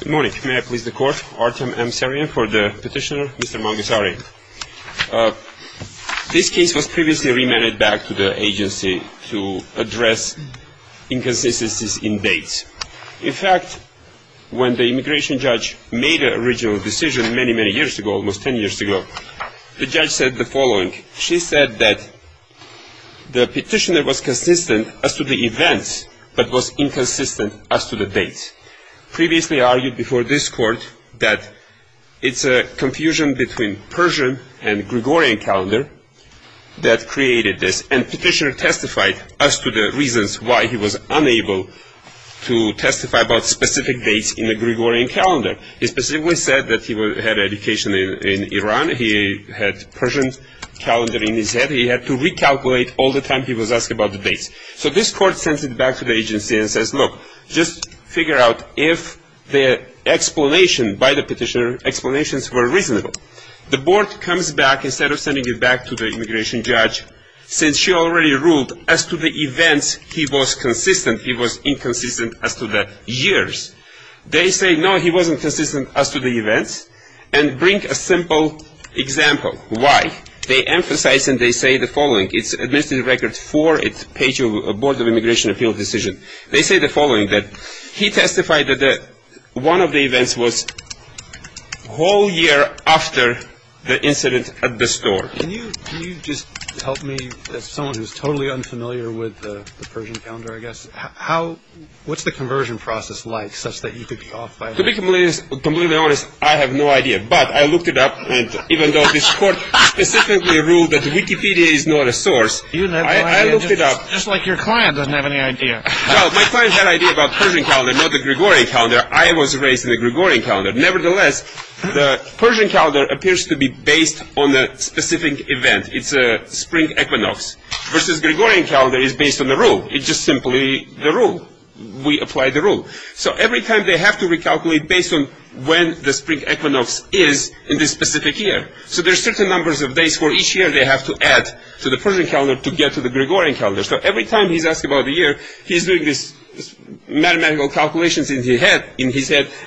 Good morning. May I please the court? Artem M. Sarian for the petitioner, Mr. Mangasaryan. This case was previously remanded back to the agency to address inconsistencies in dates. In fact, when the immigration judge made the original decision many, many years ago, almost 10 years ago, the judge said the following. She said that the petitioner was consistent as to the events but was inconsistent as to the dates. Previously argued before this court that it's a confusion between Persian and Gregorian calendar that created this. And petitioner testified as to the reasons why he was unable to testify about specific dates in the Gregorian calendar. He specifically said that he had education in Iran. He had Persian calendar in his head. He had to recalculate all the time he was asked about the dates. So this court sends it back to the agency and says, look, just figure out if the explanation by the petitioner, explanations were reasonable. The board comes back, instead of sending it back to the immigration judge, since she already ruled as to the events he was consistent, he was inconsistent as to the years. They say, no, he wasn't consistent as to the events, and bring a simple example. Why? They emphasize and they say the following. It's administrative record four. It's page of board of immigration appeal decision. They say the following, that he testified that one of the events was whole year after the incident at the store. Can you just tell me, as someone who's totally unfamiliar with the Persian calendar, I guess, what's the conversion process like such that you could be off by a year? To be completely honest, I have no idea. But I looked it up, and even though this court specifically ruled that Wikipedia is not a source, I looked it up. Just like your client doesn't have any idea. Well, my client had idea about Persian calendar, not the Gregorian calendar. I was raised in the Gregorian calendar. Nevertheless, the Persian calendar appears to be based on a specific event. It's a spring equinox. Versus Gregorian calendar is based on the rule. It's just simply the rule. We apply the rule. So every time they have to recalculate based on when the spring equinox is in this specific year. So there's certain numbers of days for each year they have to add to the Persian calendar to get to the Gregorian calendar. So every time he's asked about the year, he's doing this mathematical calculations in his head,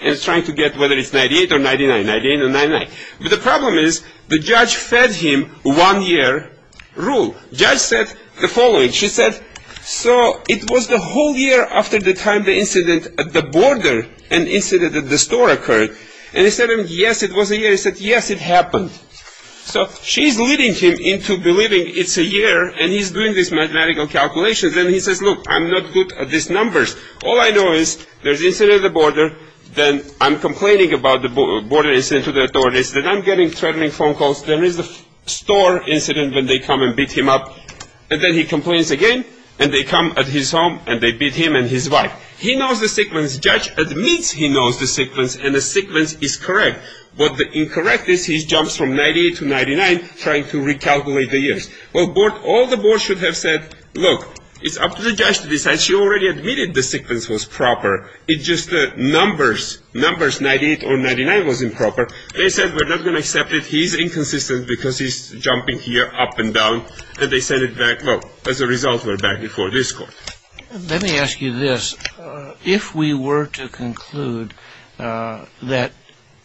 and trying to get whether it's 98 or 99, 98 or 99. But the problem is, the judge fed him one year rule. Judge said the following. She said, so it was the whole year after the time the incident at the border and incident at the store occurred. And he said, yes, it was a year. He said, yes, it happened. So she's leading him into believing it's a year, and he's doing this mathematical calculations. And he says, look, I'm not good at these numbers. All I know is there's incident at the border, then I'm complaining about the border incident to the authorities, then I'm getting threatening phone calls. There is a store incident when they come and beat him up. And then he complains again, and they come at his home, and they beat him and his wife. He knows the sequence. Judge admits he knows the sequence, and the sequence is correct. But the incorrect is he jumps from 98 to 99, trying to recalculate the years. Well, all the board should have said, look, it's up to the judge to decide. She already admitted the sequence was proper. It's just the numbers, numbers 98 or 99 was improper. They said, we're not going to accept it. He's inconsistent because he's jumping here, up and down. And they sent it back. Well, as a result, we're back before this court. Let me ask you this. If we were to conclude that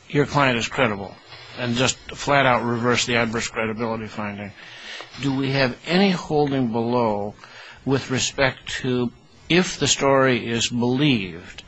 your client is credible and just flat-out reverse the adverse credibility finding, do we have any holding below with respect to if the story is believed,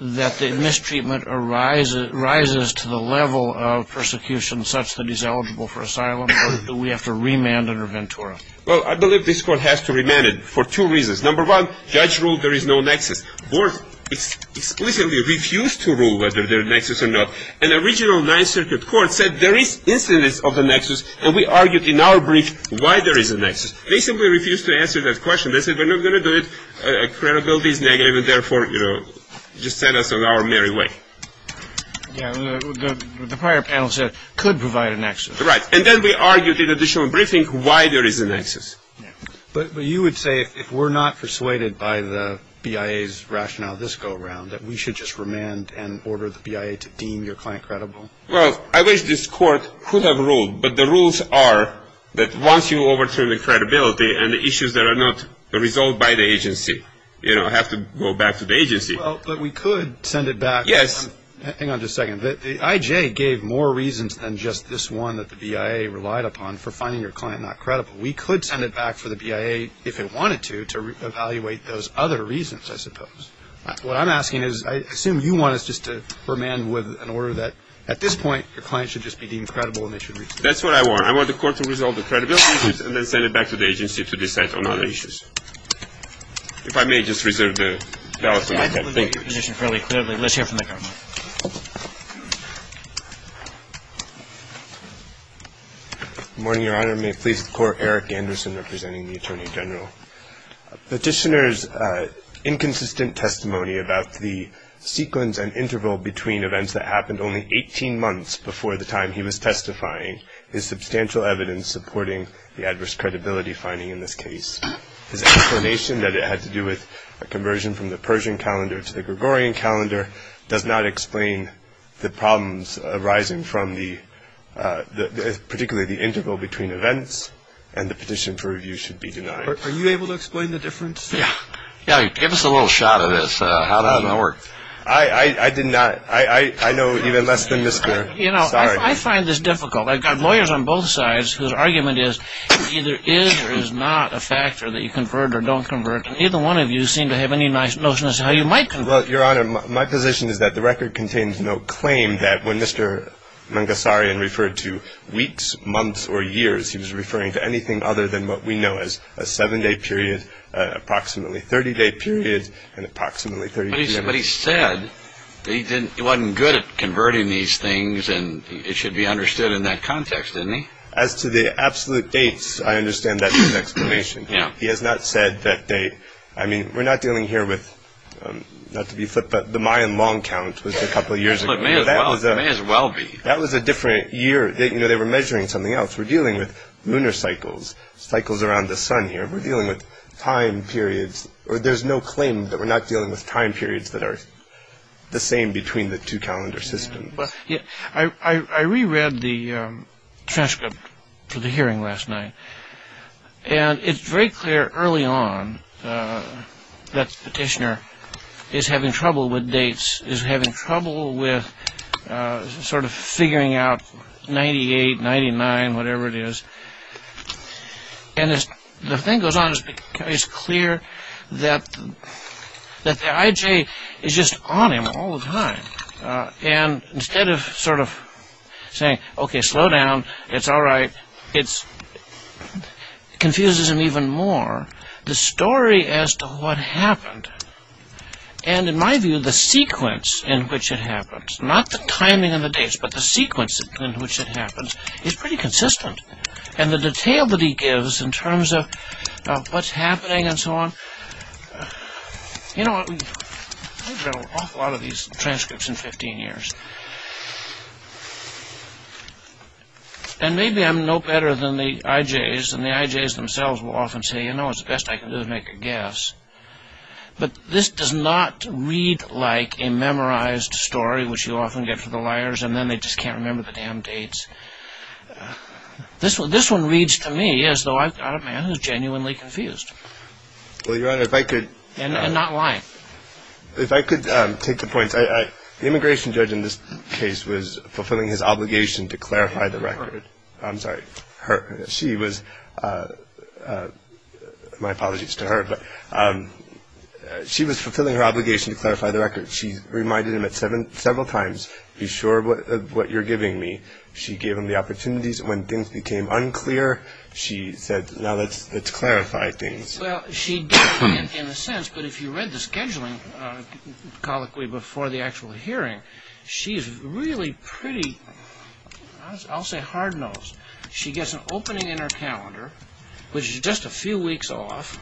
that the mistreatment rises to the level of persecution such that he's eligible for asylum, or do we have to remand under Ventura? Well, I believe this court has to remand it for two reasons. Number one, judge ruled there is no nexus. Board explicitly refused to rule whether there's a nexus or not. An original Ninth Circuit court said there is instances of the nexus, and we argued in our brief why there is a nexus. They simply refused to answer that question. They said, we're not going to do it. Credibility is negative, and therefore, you know, just set us on our merry way. Yeah, the prior panel said it could provide a nexus. Right, and then we argued in additional briefing why there is a nexus. But you would say if we're not persuaded by the BIA's rationale this go-around, that we should just remand and order the BIA to deem your client credible? Well, I wish this court could have ruled, but the rules are that once you overturn the credibility and the issues that are not resolved by the agency, you know, have to go back to the agency. Well, but we could send it back. Yes. Hang on just a second. The IJ gave more reasons than just this one that the BIA relied upon for finding your client not credible. We could send it back for the BIA, if it wanted to, to evaluate those other reasons, I suppose. What I'm asking is, I assume you want us just to remand with an order that, at this point, your client should just be deemed credible and they should reach the court. That's what I want. I want the court to resolve the credibility issues and then send it back to the agency to decide on other issues. If I may, just reserve the ballot for my time. Thank you. Let's hear from the judge. Good morning, Your Honor. May it please the Court, Eric Anderson representing the Attorney General. Petitioner's inconsistent testimony about the sequence and interval between events that happened only 18 months before the time he was testifying is substantial evidence supporting the adverse credibility finding in this case. His explanation that it had to do with a conversion from the Persian calendar to the Gregorian calendar does not explain the problems arising from the, particularly the interval between events and the petition for review should be denied. Are you able to explain the difference? Yeah. Yeah, give us a little shot of this, how that works. I did not. I know even less than Mr. Sorry. You know, I find this difficult. I've got lawyers on both sides whose argument is, it either is or is not a factor that you convert or don't convert, and neither one of you seem to have any notion as to how you might convert. Well, Your Honor, my position is that the record contains no claim that when Mr. Mangasarian referred to a seven-day period, approximately 30-day period, and approximately 30 days. But he said that he wasn't good at converting these things, and it should be understood in that context, didn't he? As to the absolute dates, I understand that's an explanation. Yeah. He has not said that date. I mean, we're not dealing here with, not to be flipped, but the Mayan long count was a couple of years ago. It may as well be. That was a different year. You know, they were measuring something else. We're dealing with lunar cycles, cycles around the sun here. We're dealing with time periods. There's no claim that we're not dealing with time periods that are the same between the two calendar systems. I reread the transcript to the hearing last night, and it's very clear early on that the petitioner is having trouble with dates, is having trouble with sort of figuring out 98, 99, whatever it is. And as the thing goes on, it's clear that the IJ is just on him all the time. And instead of sort of saying, okay, slow down, it's all right, it confuses him even more, the story as to what happened. And in my view, the sequence in which it happens, not the timing of the dates, but the sequence in which it happens is pretty consistent. And the detail that he gives in terms of what's happening and so on, you know, I've read an awful lot of these transcripts in 15 years. And maybe I'm no better than the IJs, and the IJs themselves will often say, you know, the best I can do is make a guess. But this does not read like a memorized story, which you often get from the liars, and then they just can't remember the damn dates. This one reads to me as though I've got a man who's genuinely confused. And not lying. If I could take the points. The immigration judge in this case was fulfilling his obligation to clarify the record. I'm sorry, she was, my apologies to her, but she was fulfilling her obligation to clarify the record. She reminded him several times, be sure of what you're giving me. She gave him the opportunities. When things became unclear, she said, now let's clarify things. Well, she did in a sense, but if you read the scheduling colloquy before the actual hearing, she's really pretty, I'll say hard-nosed. She gets an opening in her calendar, which is just a few weeks off,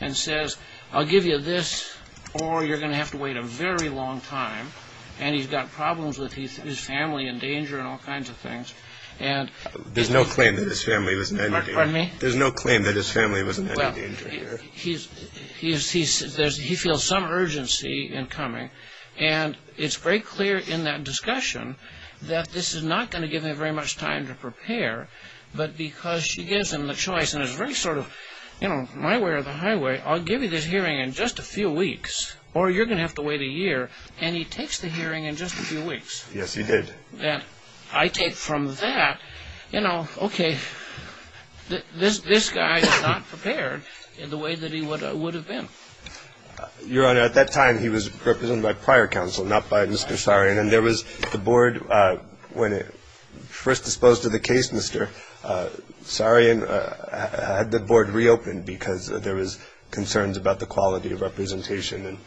and says, I'll give you this, or you're going to have to wait a very long time. And he's got problems with his family in danger and all kinds of things. There's no claim that his family was in any danger. Pardon me? There's no claim that his family was in any danger here. He feels some urgency in coming, and it's very clear in that discussion that this is not going to give him very much time to prepare, but because she gives him the choice, and it's very sort of, you know, my way or the highway, I'll give you this hearing in just a few weeks, or you're going to have to wait a year, and he takes the hearing in just a few weeks. Yes, he did. I take from that, you know, okay, this guy is not prepared in the way that he would have been. Your Honor, at that time he was represented by prior counsel, not by Mr. Sarian, and there was the board, when first disposed of the case, Mr. Sarian, had the board reopened because there was concerns about the quality of representation.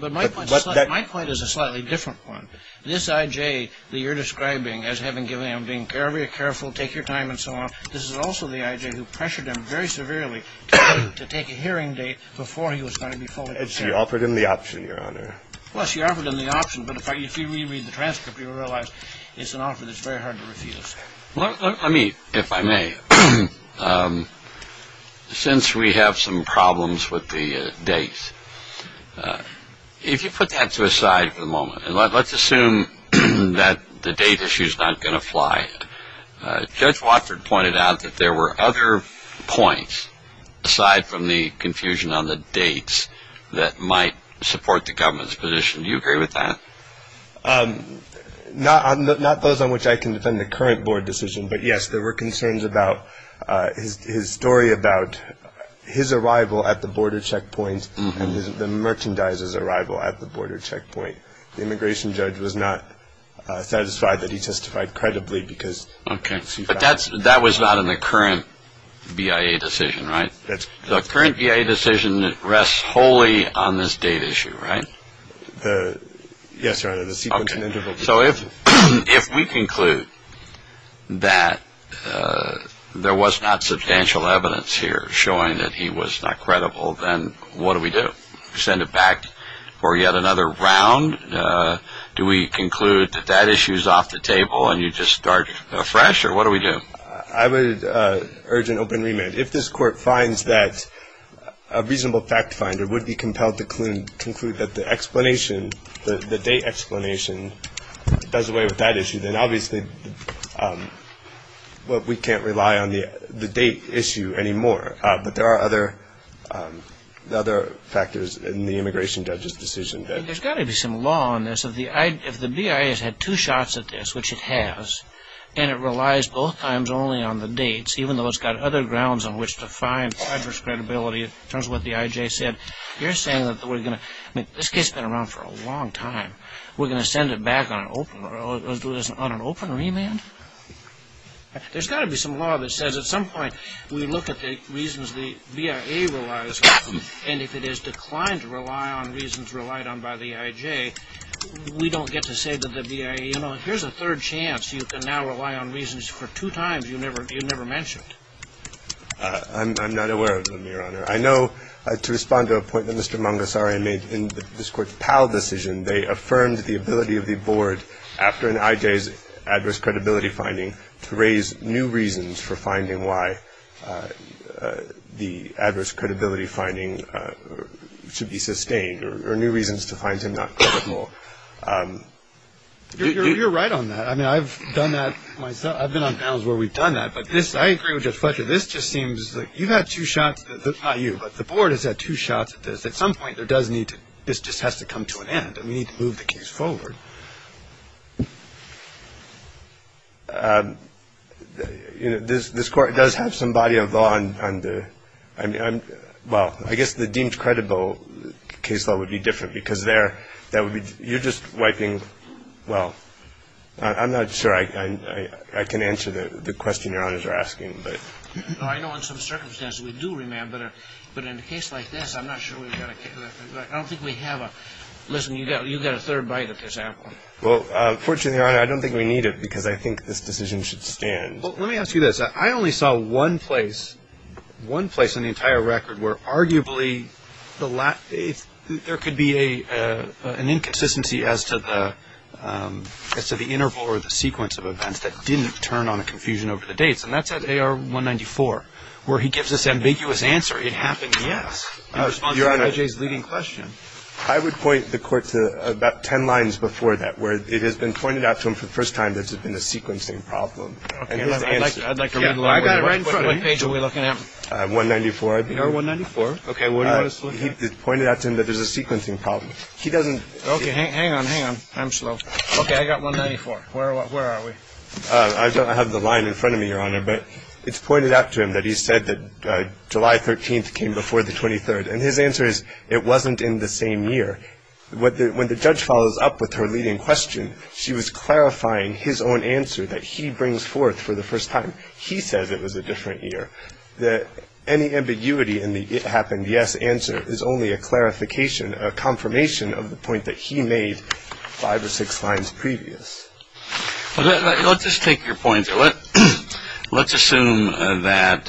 My point is a slightly different one. This I.J. that you're describing as having given him being very careful, take your time and so on, this is also the I.J. who pressured him very severely to take a hearing date before he was going to be fully considered. She offered him the option, Your Honor. Well, she offered him the option, but if you reread the transcript, you'll realize it's an offer that's very hard to refuse. Let me, if I may, since we have some problems with the dates, if you put that to a side for the moment, and let's assume that the date issue is not going to fly, Judge Watford pointed out that there were other points, aside from the confusion on the dates, that might support the government's position. Do you agree with that? Not those on which I can defend the current board decision, but, yes, there were concerns about his story about his arrival at the border checkpoint and the merchandiser's arrival at the border checkpoint. The immigration judge was not satisfied that he testified credibly because. Okay, but that was not in the current BIA decision, right? The current BIA decision rests wholly on this date issue, right? Yes, Your Honor. So if we conclude that there was not substantial evidence here showing that he was not credible, then what do we do, send it back for yet another round? Do we conclude that that issue is off the table and you just start afresh, or what do we do? I would urge an open remand. If this Court finds that a reasonable fact finder would be compelled to conclude that the explanation, the date explanation does away with that issue, then obviously we can't rely on the date issue anymore. But there are other factors in the immigration judge's decision. There's got to be some law on this. If the BIA has had two shots at this, which it has, and it relies both times only on the dates, even though it's got other grounds on which to find adverse credibility in terms of what the IJ said, you're saying that we're going to – I mean, this case has been around for a long time. We're going to send it back on an open remand? There's got to be some law that says at some point we look at the reasons the BIA relies on them, and if it has declined to rely on reasons relied on by the IJ, we don't get to say to the BIA, you know, here's a third chance you can now rely on reasons for two times you never mentioned. I'm not aware of them, Your Honor. I know to respond to a point that Mr. Mangasari made in this Court's Powell decision, they affirmed the ability of the Board after an IJ's adverse credibility finding to raise new reasons for finding why the adverse credibility finding should be sustained or new reasons to find him not credible. You're right on that. I mean, I've done that myself. I've been on panels where we've done that, but this – I agree with Judge Fletcher. This just seems like you've had two shots – not you, but the Board has had two shots at this. But at some point, there does need to – this just has to come to an end, and we need to move the case forward. You know, this Court does have some body of law on the – well, I guess the deemed credible case law would be different, because there, that would be – you're just wiping – well, I'm not sure I can answer the question Your Honors are asking, but. I know in some circumstances we do remember, but in a case like this, I'm not sure we've got a – I don't think we have a – listen, you've got a third bite at this apple. Well, fortunately, Your Honor, I don't think we need it, because I think this decision should stand. Well, let me ask you this. I only saw one place – one place in the entire record where arguably the – there could be an inconsistency as to the interval or the sequence of events that didn't turn on a confusion over the dates, and that's at AR-194, where he gives this ambiguous answer. It happens, yes, in response to F.J.'s leading question. Your Honor, I would point the Court to about ten lines before that where it has been pointed out to him for the first time that there's been a sequencing problem. Okay. I'd like to read the line. I've got it right in front of me. What page are we looking at? 194, I believe. AR-194. Okay. He pointed out to him that there's a sequencing problem. He doesn't – Okay. Hang on, hang on. I'm slow. Okay. I've got 194. Where are we? I don't have the line in front of me, Your Honor, but it's pointed out to him that he said that July 13th came before the 23rd, and his answer is it wasn't in the same year. When the judge follows up with her leading question, she was clarifying his own answer that he brings forth for the first time. He says it was a different year. Any ambiguity in the it happened, yes, answer is only a clarification, a confirmation of the point that he made five or six lines previous. Let's just take your point. Let's assume that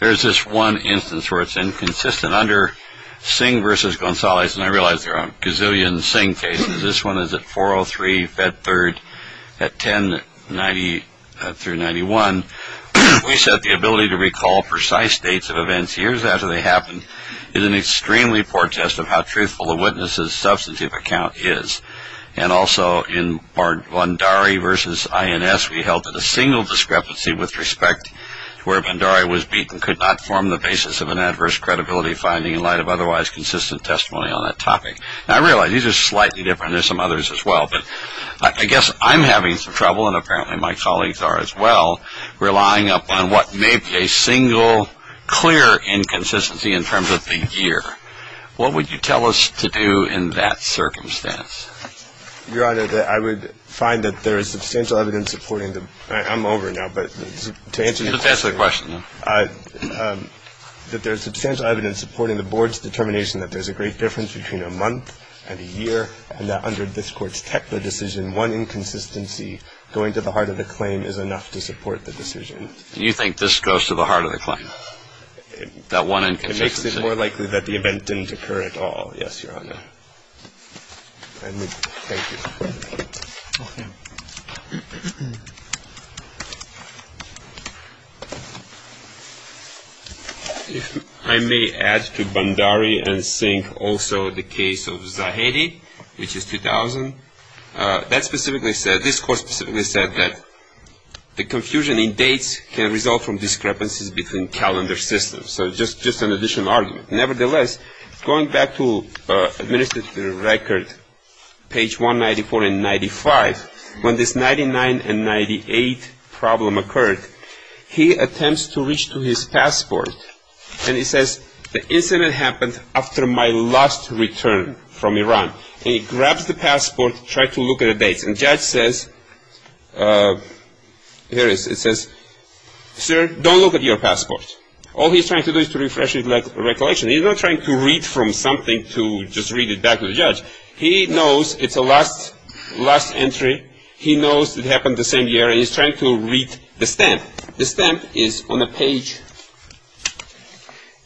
there's this one instance where it's inconsistent. Under Singh v. Gonzalez, and I realize there are a gazillion Singh cases, this one is at 403 Fed Third at 1090 through 91. We said the ability to recall precise dates of events years after they happened is an extremely poor test of how truthful the witness's substantive account is. And also in Bandari v. INS, we held that a single discrepancy with respect to where Bandari was beaten could not form the basis of an adverse credibility finding in light of otherwise consistent testimony on that topic. Now, I realize these are slightly different. There's some others as well, but I guess I'm having some trouble, and apparently my colleagues are as well, relying upon what may be a single clear inconsistency in terms of the year. What would you tell us to do in that circumstance? Your Honor, I would find that there is substantial evidence supporting the — I'm over now, but to answer your question — Just answer the question, then. That there's substantial evidence supporting the Board's determination that there's a great difference between a month and a year, and that under this Court's technical decision, one inconsistency going to the heart of the claim is enough to support the decision. You think this goes to the heart of the claim, that one inconsistency? It makes it more likely that the event didn't occur at all. Yes, Your Honor. Thank you. If I may add to Bandari and sink also the case of Zahedi, which is 2000, that specifically said — this Court specifically said that the confusion in dates can result from discrepancies between calendar systems. So just an additional argument. Nevertheless, going back to administrative record, page 194 and 95, when this 1999 and 1998 problem occurred, he attempts to reach to his passport, and he says, the incident happened after my last return from Iran. And he grabs the passport, tries to look at the dates. And the judge says — here it is. It says, sir, don't look at your passport. All he's trying to do is to refresh his recollection. He's not trying to read from something to just read it back to the judge. He knows it's a last entry. He knows it happened the same year, and he's trying to read the stamp. The stamp is on the page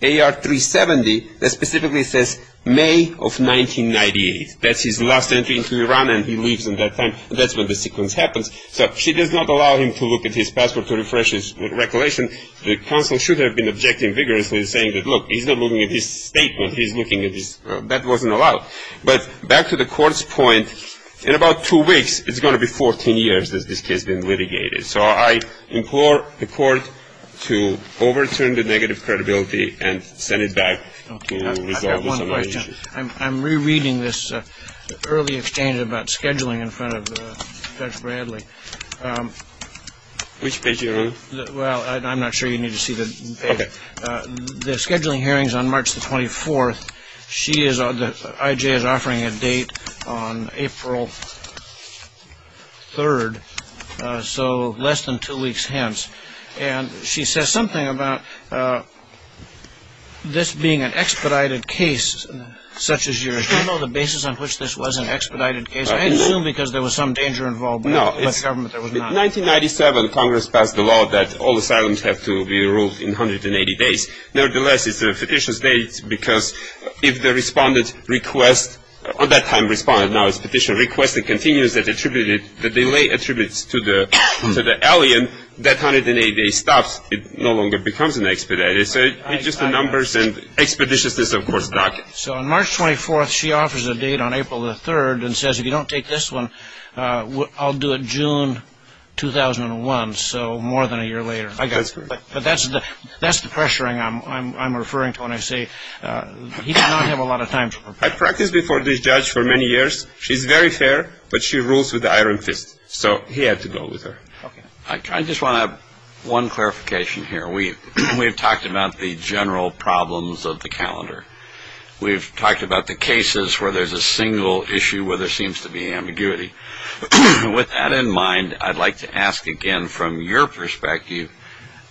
AR370 that specifically says May of 1998. That's his last entry into Iran, and he leaves at that time. That's when the sequence happens. And the counsel should have been objecting vigorously and saying that, look, he's not looking at his statement. He's looking at his — that wasn't allowed. But back to the court's point, in about two weeks, it's going to be 14 years that this case has been litigated. So I implore the court to overturn the negative credibility and send it back to resolve this situation. I have one question. I'm rereading this early exchange about scheduling in front of Judge Bradley. Which page are you on? Well, I'm not sure you need to see the page. The scheduling hearing is on March the 24th. She is — I.J. is offering a date on April 3rd, so less than two weeks hence. And she says something about this being an expedited case such as yours. Do you know the basis on which this was an expedited case? I assume because there was some danger involved by the government. There was not. In 1997, Congress passed a law that all asylums have to be ruled in 180 days. Nevertheless, it's a fictitious date because if the respondent requests — on that time, respondent now is a petitioner — requests and continues that attributed — the delay attributes to the alien, that 180-day stops. It no longer becomes an expedited. So it's just the numbers and expeditiousness, of course, doc. So on March 24th, she offers a date on April the 3rd and says, if you don't take this one, I'll do it June 2001, so more than a year later. That's correct. But that's the pressuring I'm referring to when I say he did not have a lot of time to prepare. I practiced before this judge for many years. She's very fair, but she rules with an iron fist, so he had to go with her. Okay. I just want to have one clarification here. We've talked about the general problems of the calendar. We've talked about the cases where there's a single issue where there seems to be ambiguity. With that in mind, I'd like to ask again from your perspective,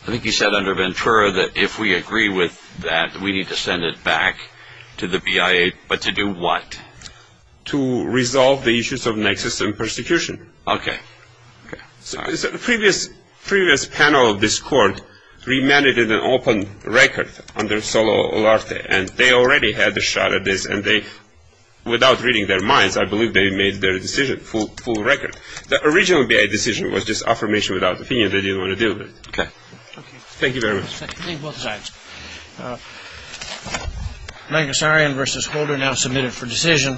I think you said under Ventura that if we agree with that, we need to send it back to the BIA, but to do what? To resolve the issues of nexus and persecution. Okay. So the previous panel of this court remanded an open record under Solo Olarte, and they already had a shot at this, and they, without reading their minds, I believe they made their decision, full record. The original BIA decision was just affirmation without opinion. They didn't want to deal with it. Okay. Thank you very much. Thank you both sides. Magnessarian v. Holder now submitted for decision.